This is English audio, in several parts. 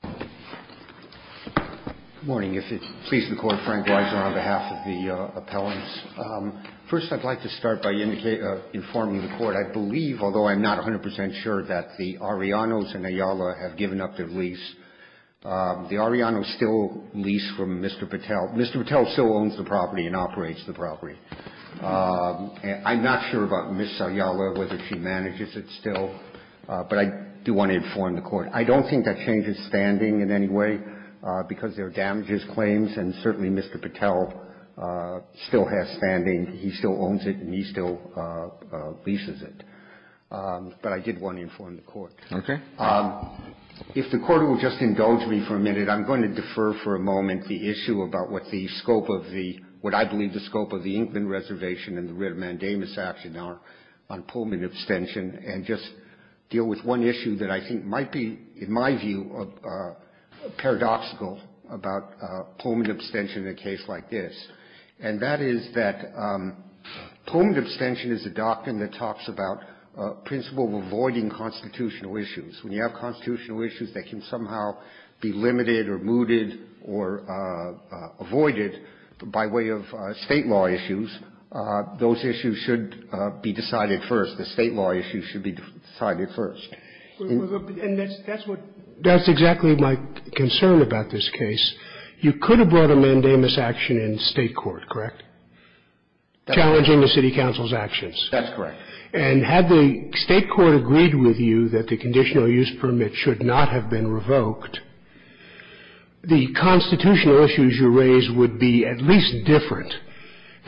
Good morning. If it pleases the Court, Frank Weiser on behalf of the appellants. First, I'd like to start by informing the Court, I believe, although I'm not 100 percent sure, that the Arianos and Ayala have given up their lease. The Arianos still lease from Mr. Patel. Mr. Patel still owns the property and operates the property. I'm not sure about Ms. Ayala, whether she manages it still, but I do want to inform the Court. I don't think that changes standing in any way, because there are damages claims, and certainly Mr. Patel still has standing. He still owns it, and he still leases it. But I did want to inform the Court. Okay. If the Court will just indulge me for a minute, I'm going to defer for a moment the issue about what the scope of the – what I believe the scope of the Inkman Reservation and the writ of mandamus action are on Pullman abstention, and just deal with one issue that I think might be, in my view, paradoxical about Pullman abstention in a case like this. And that is that Pullman abstention is a doctrine that talks about principle of avoiding constitutional issues. When you have constitutional issues that can somehow be limited or mooted or avoided by way of State law issues, those issues should be decided first. The State law issues should be decided first. And that's what – That's exactly my concern about this case. You could have brought a mandamus action in State court, correct, challenging the city council's actions? That's correct. And had the State court agreed with you that the conditional use permit should not have been revoked, the constitutional issues you raise would be at least different.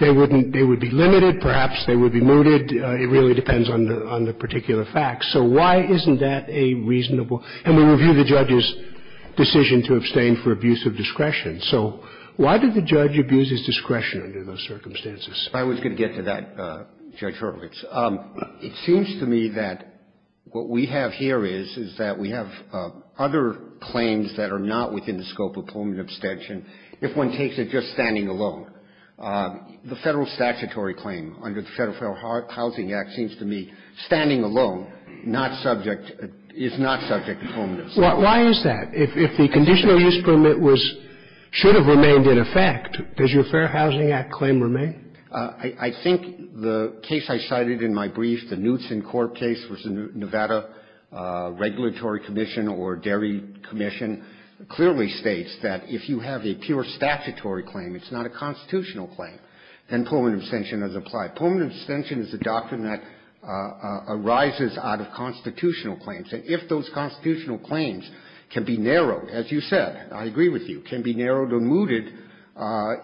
They wouldn't – they would be limited. Perhaps they would be mooted. It really depends on the particular facts. So why isn't that a reasonable – and we review the judge's decision to abstain for abuse of discretion. So why did the judge abuse his discretion under those circumstances? I was going to get to that, Judge Horowitz. It seems to me that what we have here is, is that we have other claims that are not within the scope of permanent abstention. If one takes it just standing alone, the Federal statutory claim under the Federal Fair Housing Act seems to me standing alone, not subject – is not subject to permanent abstention. Why is that? If the conditional use permit was – should have remained in effect, does your Fair Housing Act claim remain? I think the case I cited in my brief, the Knutson Corp. case, which the Nevada Regulatory Commission or Dairy Commission clearly states that if you have a pure statutory claim, it's not a constitutional claim, then permanent abstention is applied. Permanent abstention is a doctrine that arises out of constitutional claims. And if those constitutional claims can be narrowed, as you said, I agree with you, can be narrowed or mooted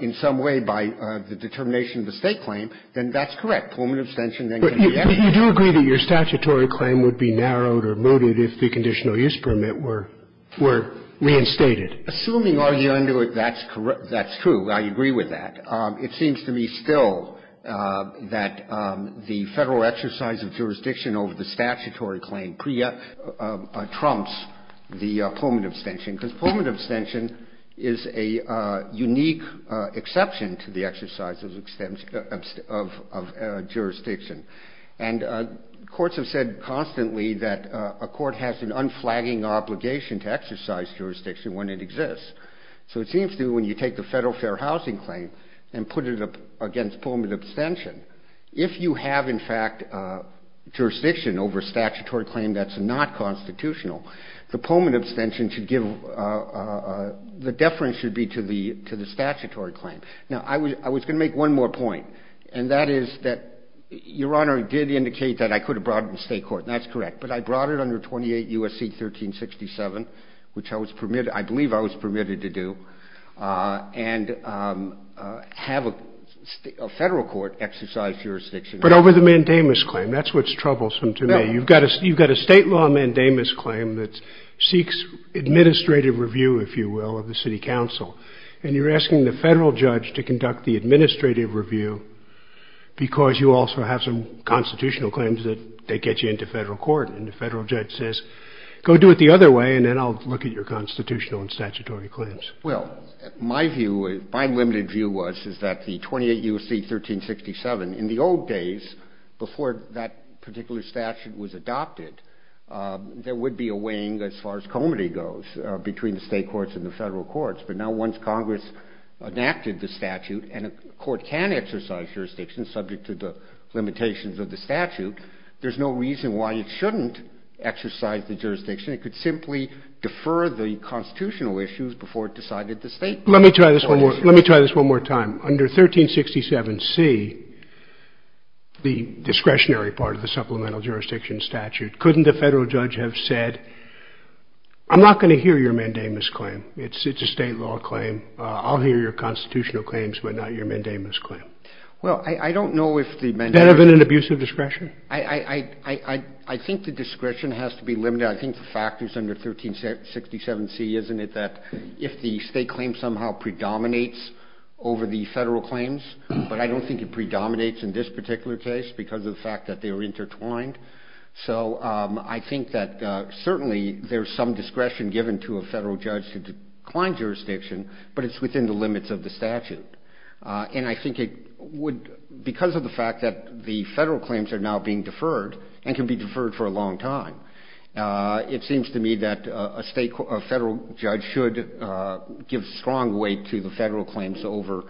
in some way by the determination of the State claim, then that's correct. Permanent abstention then can be added. But you do agree that your statutory claim would be narrowed or mooted if the conditional use permit were – were reinstated? Assuming our view under it, that's correct. That's true. I agree with that. It seems to me still that the Federal exercise of jurisdiction over the statutory claim pre-trumps the permanent abstention, because permanent abstention is a unique exception to the exercise of jurisdiction. And courts have said constantly that a court has an unflagging obligation to exercise jurisdiction when it exists. So it seems to me when you take the Federal fair housing claim and put it up against permanent abstention, if you have, in fact, jurisdiction over a statutory claim that's not constitutional, the permanent abstention should give – the deference should be to the statutory claim. Now, I was going to make one more point, and that is that Your Honor did indicate that I could have brought it to State court, and that's correct. But I brought it under 28 U.S.C. 1367, which I was permitted – I believe I was permitted to do, and have a Federal court exercise jurisdiction. But over the mandamus claim, that's what's troublesome to me. You've got a State law mandamus claim that seeks administrative review, if you will, of the city council, and you're asking the Federal judge to conduct the administrative review because you also have some constitutional claims that they get you into Federal court. And the Federal judge says, go do it the other way, and then I'll look at your constitutional and statutory claims. Well, my view, my limited view was, is that the 28 U.S.C. 1367, in the old days, before that particular statute was adopted, there would be a wing, as far as comity goes, between the State courts and the Federal courts. But now once Congress enacted the statute, and a court can exercise jurisdiction subject to the limitations of the statute, there's no reason why it shouldn't exercise the jurisdiction. It could simply defer the constitutional issues before it decided the State law. Let me try this one more time. Under 1367C, the discretionary part of the supplemental jurisdiction statute, couldn't the Federal judge have said, I'm not going to hear your mandamus claim. It's a State law claim. I'll hear your constitutional claims, but not your mandamus claim. Well, I don't know if the mandamus claim. Benefit and abuse of discretion? I think the discretion has to be limited. I think the fact is under 1367C, isn't it, that if the State claim somehow predominates over the Federal claims, but I don't think it predominates in this particular case because of the fact that they are intertwined. So I think that certainly there's some discretion given to a Federal judge to decline jurisdiction, but it's within the limits of the statute. And I think it would, because of the fact that the Federal claims are now being deferred and can be deferred for a long time. It seems to me that a Federal judge should give strong weight to the Federal claims over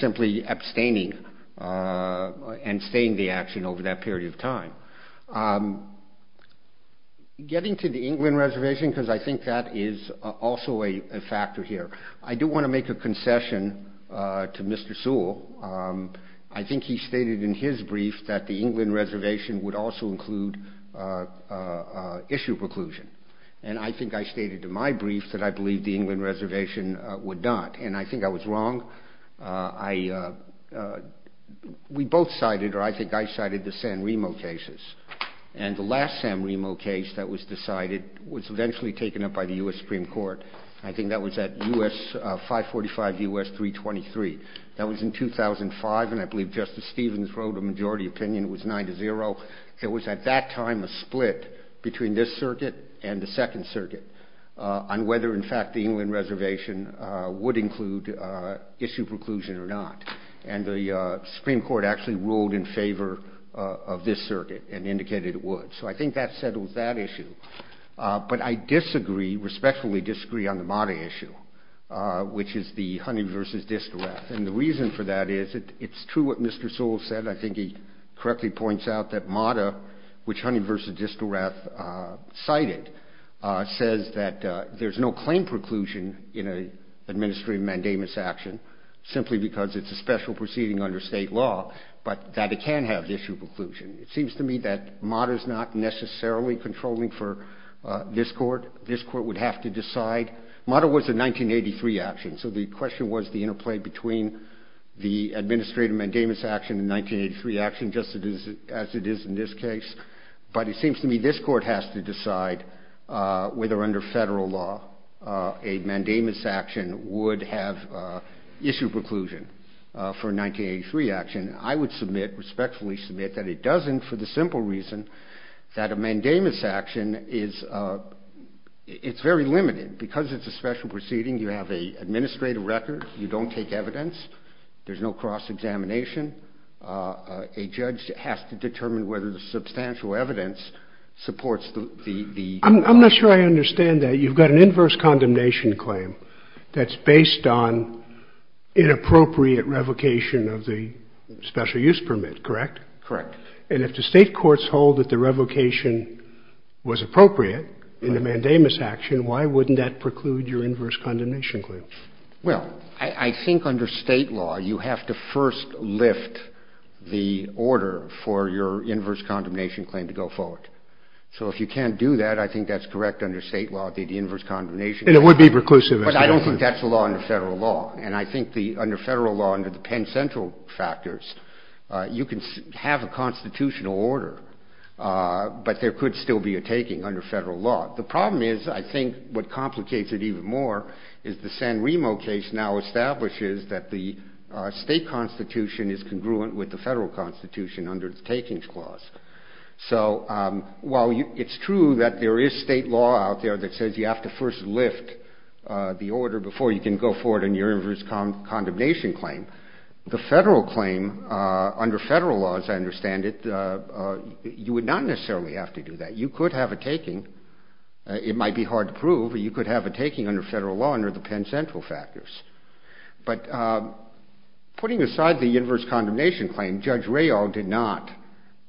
simply abstaining and staying the action over that period of time. Getting to the England reservation, because I think that is also a factor here, I do want to make a concession to Mr. Sewell. I think he stated in his brief that the England reservation would also include issue preclusion. And I think I stated in my brief that I believe the England reservation would not. And I think I was wrong. We both cited, or I think I cited, the San Remo cases. And the last San Remo case that was decided was eventually taken up by the U.S. Supreme Court. I think that was at 545 U.S. 323. That was in 2005, and I believe Justice Stevens wrote a majority opinion. It was 9-0. It was at that time a split between this circuit and the Second Circuit on whether, in fact, the England reservation would include issue preclusion or not. And the Supreme Court actually ruled in favor of this circuit and indicated it would. So I think that settles that issue. But I disagree, respectfully disagree, on the MATA issue, which is the Huntington v. Distelrath. And the reason for that is it's true what Mr. Sewell said. I think he correctly points out that MATA, which Huntington v. Distelrath cited, says that there's no claim preclusion in an administrative mandamus action, simply because it's a special proceeding under state law, but that it can have issue preclusion. It seems to me that MATA is not necessarily controlling for this court. This court would have to decide. MATA was a 1983 action, so the question was the interplay between the administrative mandamus action and the 1983 action, just as it is in this case. But it seems to me this court has to decide whether, under federal law, a mandamus action would have issue preclusion for a 1983 action. I would submit, respectfully submit, that it doesn't for the simple reason that a mandamus action is very limited. Because it's a special proceeding, you have an administrative record. You don't take evidence. There's no cross-examination. A judge has to determine whether the substantial evidence supports the ---- I'm not sure I understand that. You've got an inverse condemnation claim that's based on inappropriate revocation of the special use permit, correct? Correct. And if the state courts hold that the revocation was appropriate in the mandamus action, why wouldn't that preclude your inverse condemnation claim? Well, I think under state law, you have to first lift the order for your inverse condemnation claim to go forward. So if you can't do that, I think that's correct under state law, the inverse condemnation claim. And it would be preclusive. But I don't think that's the law under federal law. And I think under federal law, under the Penn Central factors, you can have a constitutional order, but there could still be a taking under federal law. The problem is, I think, what complicates it even more is the San Remo case now establishes that the state constitution is congruent with the federal constitution under the takings clause. So while it's true that there is state law out there that says you have to first lift the order before you can go forward in your inverse condemnation claim, the federal claim under federal law, as I understand it, you would not necessarily have to do that. You could have a taking. It might be hard to prove, but you could have a taking under federal law under the Penn Central factors. But putting aside the inverse condemnation claim, Judge Rayall did not,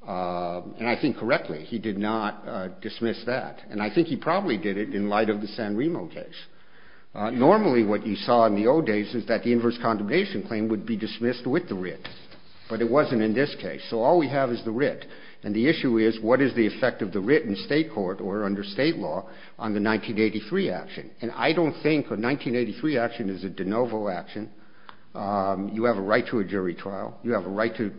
and I think correctly, he did not dismiss that. And I think he probably did it in light of the San Remo case. Normally what you saw in the old days is that the inverse condemnation claim would be dismissed with the writ. But it wasn't in this case. So all we have is the writ. And the issue is, what is the effect of the writ in state court or under state law on the 1983 action? And I don't think a 1983 action is a de novo action. You have a right to a jury trial. You have a right to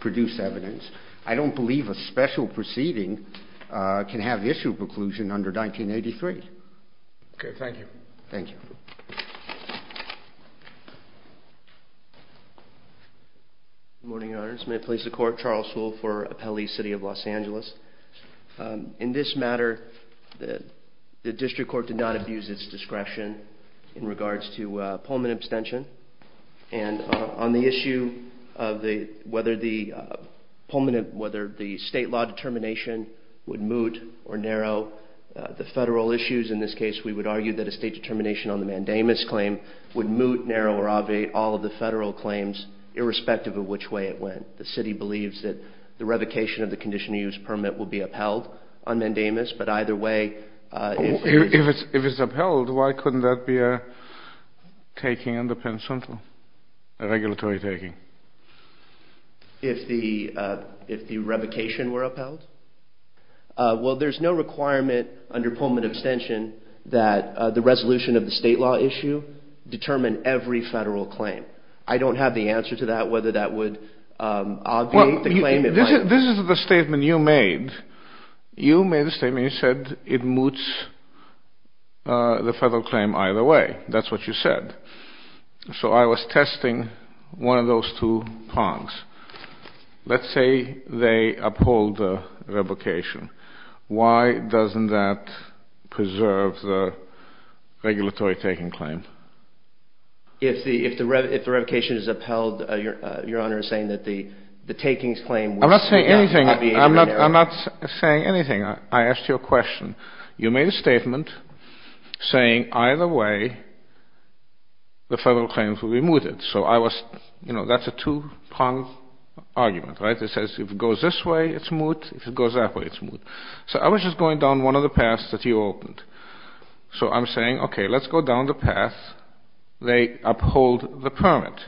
produce evidence. I don't believe a special proceeding can have issue preclusion under 1983. Okay. Thank you. Thank you. Good morning, Your Honors. May I please the court? Charles Sewell for Appellee City of Los Angeles. In this matter, the district court did not abuse its discretion in regards to Pullman abstention. And on the issue of whether the state law determination would moot or narrow the federal issues, in this case we would argue that a state determination on the mandamus claim would moot, narrow, or obviate all of the federal claims, irrespective of which way it went. The city believes that the revocation of the condition of use permit will be upheld on mandamus. But either way, if it's upheld, why couldn't that be a taking under Penn Central, a regulatory taking? If the revocation were upheld? Well, there's no requirement under Pullman abstention that the resolution of the state law issue determine every federal claim. I don't have the answer to that, whether that would obviate the claim. This is the statement you made. You made a statement. You said it moots the federal claim either way. That's what you said. So I was testing one of those two prongs. Let's say they uphold the revocation. Why doesn't that preserve the regulatory taking claim? If the revocation is upheld, Your Honor is saying that the takings claim would be obviated? I'm not saying anything. I'm not saying anything. I asked you a question. You made a statement saying either way the federal claims would be mooted. So I was you know, that's a two-pronged argument, right? It says if it goes this way, it's moot. If it goes that way, it's moot. So I was just going down one of the paths that you opened. So I'm saying, okay, let's go down the path. They uphold the permit.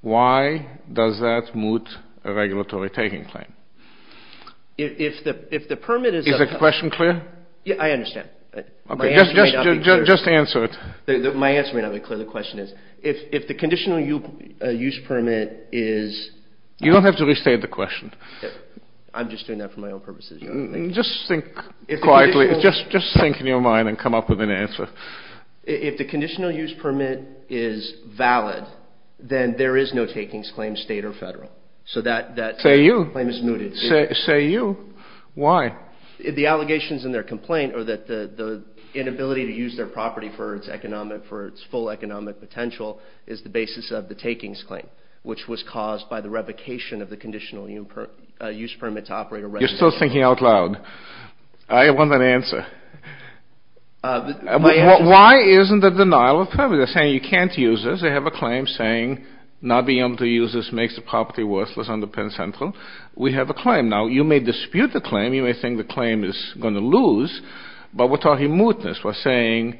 Why does that moot a regulatory taking claim? Is the question clear? I understand. Just answer it. My answer may not be clear. The question is, if the conditional use permit is You don't have to restate the question. I'm just doing that for my own purposes. Just think quietly. Just think in your mind and come up with an answer. If the conditional use permit is valid, then there is no takings claim, state or federal. So that claim is mooted. Say you. Why? The allegations in their complaint are that the inability to use their property for its economic, for its full economic potential is the basis of the takings claim, which was caused by the revocation of the conditional use permit to operate a regulatory. You're still thinking out loud. I want an answer. Why isn't the denial of permit? They're saying you can't use this. They have a claim saying not being able to use this makes the property worthless under Penn Central. We have a claim. Now, you may dispute the claim. You may think the claim is going to lose. But we're talking mootness. We're saying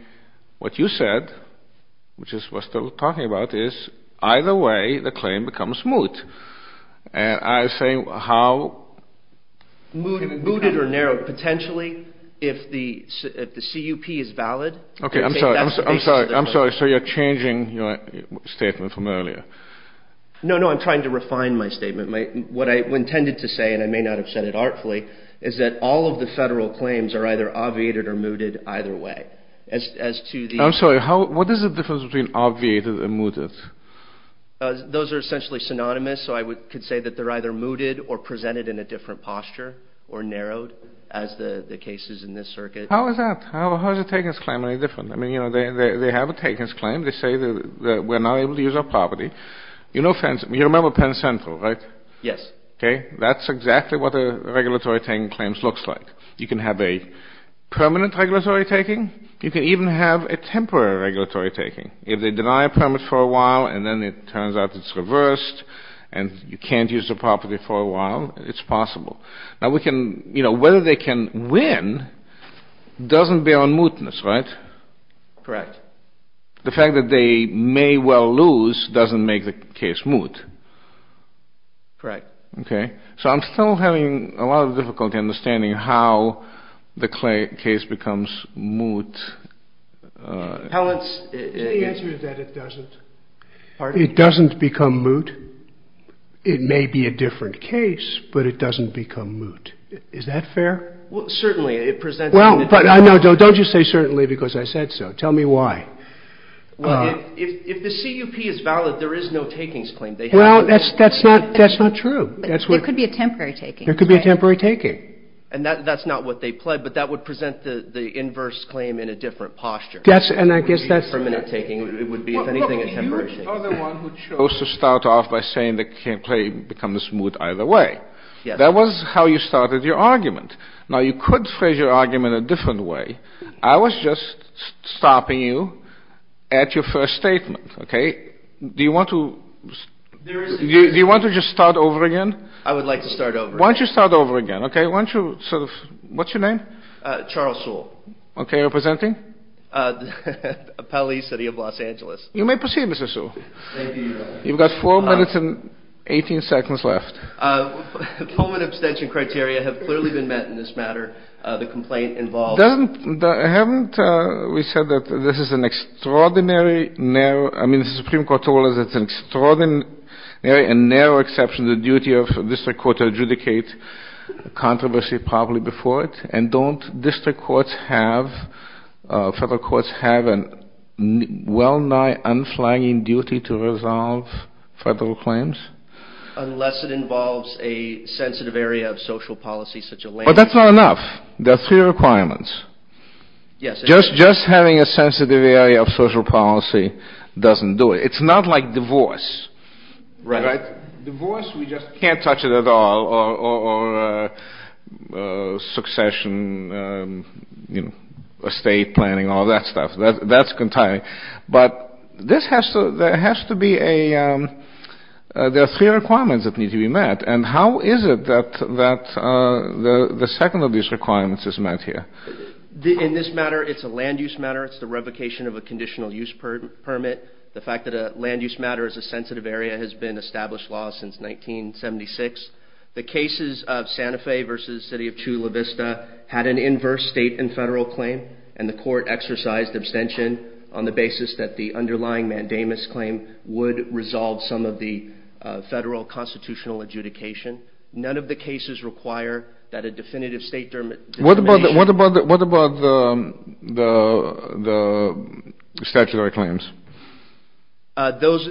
what you said, which is we're still talking about, is either way the claim becomes moot. And I say how? Mooted or narrowed. Potentially, if the CUP is valid. Okay, I'm sorry. I'm sorry. So you're changing your statement from earlier. No, no, I'm trying to refine my statement. What I intended to say, and I may not have said it artfully, is that all of the federal claims are either obviated or mooted either way. I'm sorry. What is the difference between obviated and mooted? Those are essentially synonymous. So I could say that they're either mooted or presented in a different posture or narrowed as the cases in this circuit. How is that? How is a takers' claim any different? I mean, you know, they have a takers' claim. They say that we're not able to use our property. You remember Penn Central, right? Yes. Okay. That's exactly what a regulatory taking claims looks like. You can have a permanent regulatory taking. You can even have a temporary regulatory taking. If they deny a permit for a while and then it turns out it's reversed and you can't use the property for a while, it's possible. Now, we can, you know, whether they can win doesn't bear on mootness, right? Correct. The fact that they may well lose doesn't make the case moot. Correct. Okay. So I'm still having a lot of difficulty understanding how the case becomes moot. The answer is that it doesn't. Pardon? It doesn't become moot. It may be a different case, but it doesn't become moot. Is that fair? Well, certainly. Don't just say certainly because I said so. Tell me why. Well, if the CUP is valid, there is no takings claim. Well, that's not true. There could be a temporary taking. There could be a temporary taking. And that's not what they pled, but that would present the inverse claim in a different posture. Yes, and I guess that's... It would be a permanent taking. It would be, if anything, a temporary taking. You are the one who chose to start off by saying the claim becomes moot either way. Yes. That was how you started your argument. Now, you could phrase your argument a different way. I was just stopping you at your first statement, okay? Do you want to just start over again? I would like to start over. Why don't you start over again, okay? Why don't you sort of... What's your name? Charles Sewell. Okay. You're presenting? Appellee, City of Los Angeles. You may proceed, Mr. Sewell. Thank you, Your Honor. You've got 4 minutes and 18 seconds left. Pullman abstention criteria have clearly been met in this matter. The complaint involves... Doesn't... Haven't we said that this is an extraordinary, narrow... I mean, the Supreme Court told us it's an extraordinary and narrow exception, the duty of the District Court to adjudicate controversy properly before it? And don't District Courts have... Federal Courts have a well-nigh unflagging duty to resolve federal claims? Unless it involves a sensitive area of social policy such as land... But that's not enough. There are 3 requirements. Yes. Just having a sensitive area of social policy doesn't do it. It's not like divorce. Right. Divorce, we just can't touch it at all, or succession, you know, estate planning, all that stuff. That's... But this has to... There has to be a... There are 3 requirements that need to be met. And how is it that the second of these requirements is met here? In this matter, it's a land use matter. It's the revocation of a conditional use permit. The fact that a land use matter is a sensitive area has been established law since 1976. The cases of Santa Fe versus the city of Chula Vista had an inverse state and federal claim. And the court exercised abstention on the basis that the underlying mandamus claim would resolve some of the federal constitutional adjudication. None of the cases require that a definitive state determination... Those...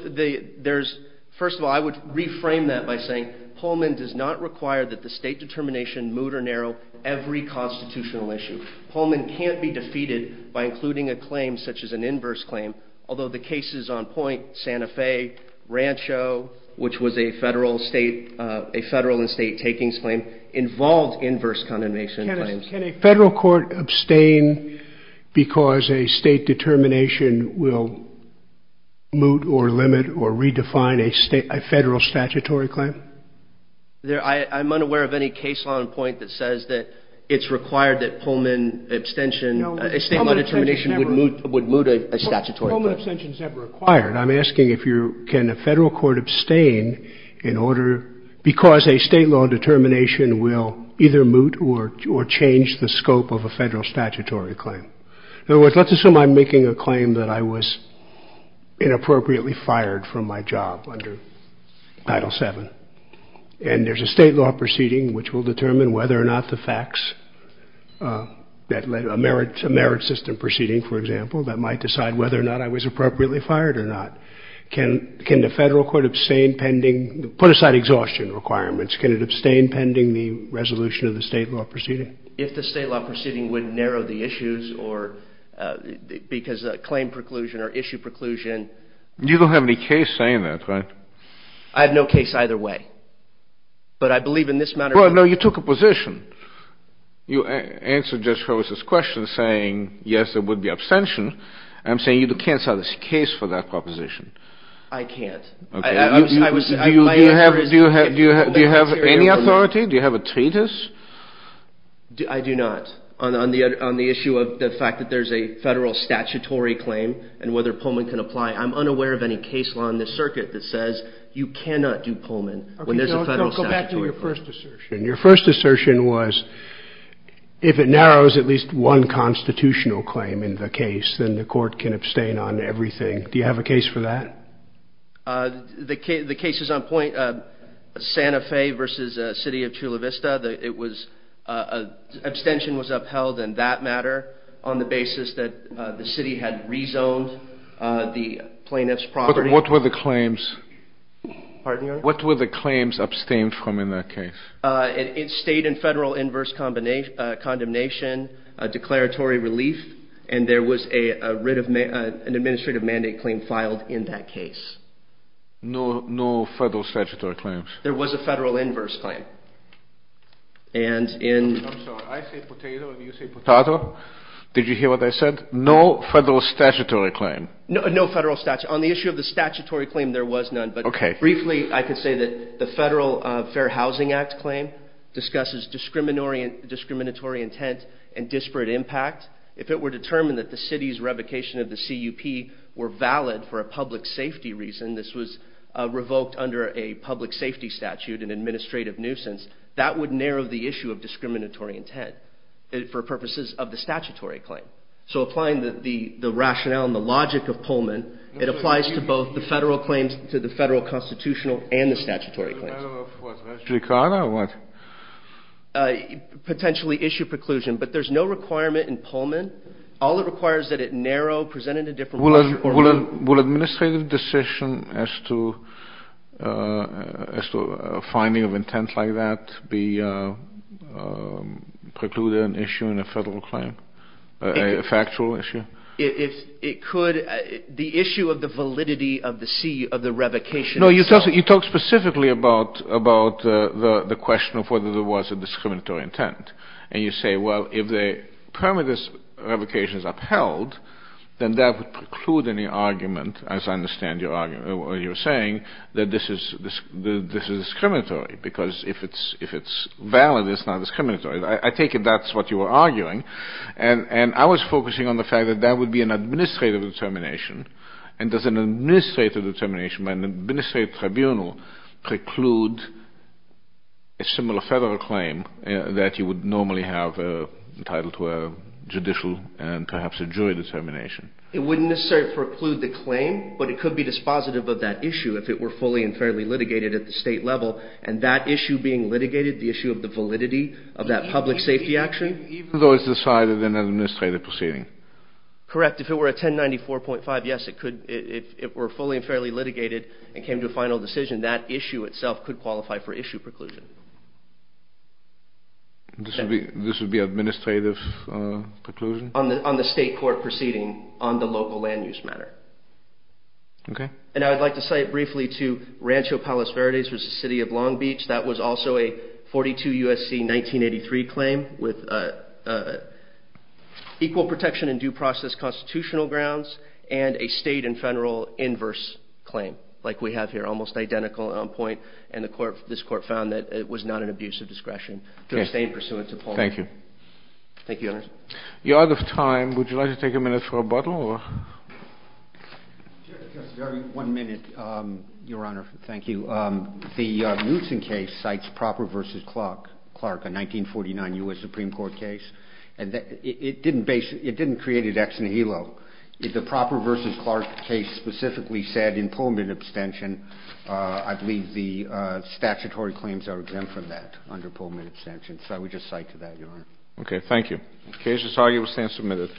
There's... First of all, I would reframe that by saying Pullman does not require that the state determination moot or narrow every constitutional issue. Pullman can't be defeated by including a claim such as an inverse claim, although the cases on point, Santa Fe, Rancho, which was a federal and state takings claim, involved inverse condemnation claims. Can a federal court abstain because a state determination will moot or limit or redefine a federal statutory claim? I'm unaware of any case on point that says that it's required that Pullman abstention... A state law determination would moot a statutory claim. Pullman abstention is never required. I'm asking if you... Can a federal court abstain in order... Because a state law determination will either moot or change the scope of a federal statutory claim? In other words, let's assume I'm making a claim that I was inappropriately fired from my job under Title VII. And there's a state law proceeding which will determine whether or not the facts... A merit system proceeding, for example, that might decide whether or not I was appropriately fired or not. Can the federal court abstain pending... Put aside exhaustion requirements. Can it abstain pending the resolution of the state law proceeding? If the state law proceeding would narrow the issues or because a claim preclusion or issue preclusion... You don't have any case saying that, right? I have no case either way. But I believe in this matter... Well, no, you took a position. You answered Judge Holmes' question saying, yes, there would be abstention. I'm saying you can't solve this case for that proposition. I can't. Do you have any authority? Do you have a treatise? I do not. On the issue of the fact that there's a federal statutory claim and whether Pullman can apply, I'm unaware of any case law in this circuit that says you cannot do Pullman when there's a federal statutory claim. Go back to your first assertion. Your first assertion was if it narrows at least one constitutional claim in the case, then the court can abstain on everything. Do you have a case for that? The case is on point. Santa Fe versus the city of Chula Vista, it was – abstention was upheld in that matter on the basis that the city had rezoned the plaintiff's property. What were the claims? Pardon me, Your Honor? What were the claims abstained from in that case? It stayed in federal inverse condemnation, declaratory relief, and there was an administrative mandate claim filed in that case. No federal statutory claims? There was a federal inverse claim. And in – I'm sorry. I say potato and you say potatoe. Did you hear what I said? No federal statutory claim. No federal – on the issue of the statutory claim, there was none. Okay. Briefly, I could say that the Federal Fair Housing Act claim discusses discriminatory intent and disparate impact. If it were determined that the city's revocation of the CUP were valid for a public safety reason, this was revoked under a public safety statute, an administrative nuisance, that would narrow the issue of discriminatory intent for purposes of the statutory claim. So applying the rationale and the logic of Pullman, it applies to both the federal claims, to the federal constitutional and the statutory claims. Is it a matter of what? Regulatory card or what? Potentially issue preclusion. But there's no requirement in Pullman. Will an administrative decision as to a finding of intent like that be precluded an issue in a federal claim? A factual issue? It could. The issue of the validity of the C, of the revocation – No, you talk specifically about the question of whether there was a discriminatory intent. And you say, well, if the permit of this revocation is upheld, then that would preclude any argument, as I understand your argument, or you're saying, that this is discriminatory, because if it's valid, it's not discriminatory. I take it that's what you were arguing. And I was focusing on the fact that that would be an administrative determination. And does an administrative determination by an administrative tribunal preclude a similar federal claim that you would normally have entitled to a judicial and perhaps a jury determination? It wouldn't necessarily preclude the claim, but it could be dispositive of that issue if it were fully and fairly litigated at the state level. And that issue being litigated, the issue of the validity of that public safety action? Even though it's decided in an administrative proceeding? Correct. If it were a 1094.5, yes, it could. If it were fully and fairly litigated and came to a final decision, that issue itself could qualify for issue preclusion. This would be administrative preclusion? On the state court proceeding on the local land use matter. Okay. And I would like to cite briefly to Rancho Palos Verdes v. City of Long Beach. That was also a 42 U.S.C. 1983 claim with equal protection and due process constitutional grounds and a state and federal inverse claim like we have here, almost identical on point. And this court found that it was not an abuse of discretion to abstain pursuant to Paul. Thank you. Thank you, Your Honor. We are out of time. Would you like to take a minute for rebuttal? Just one minute, Your Honor. Thank you. The Knutson case cites Proper v. Clark, a 1949 U.S. Supreme Court case. It didn't create an ex nihilo. The Proper v. Clark case specifically said in Pullman abstention, I believe the statutory claims are exempt from that under Pullman abstention. So I would just cite to that, Your Honor. Okay. Thank you. The case is arguably stand submitted.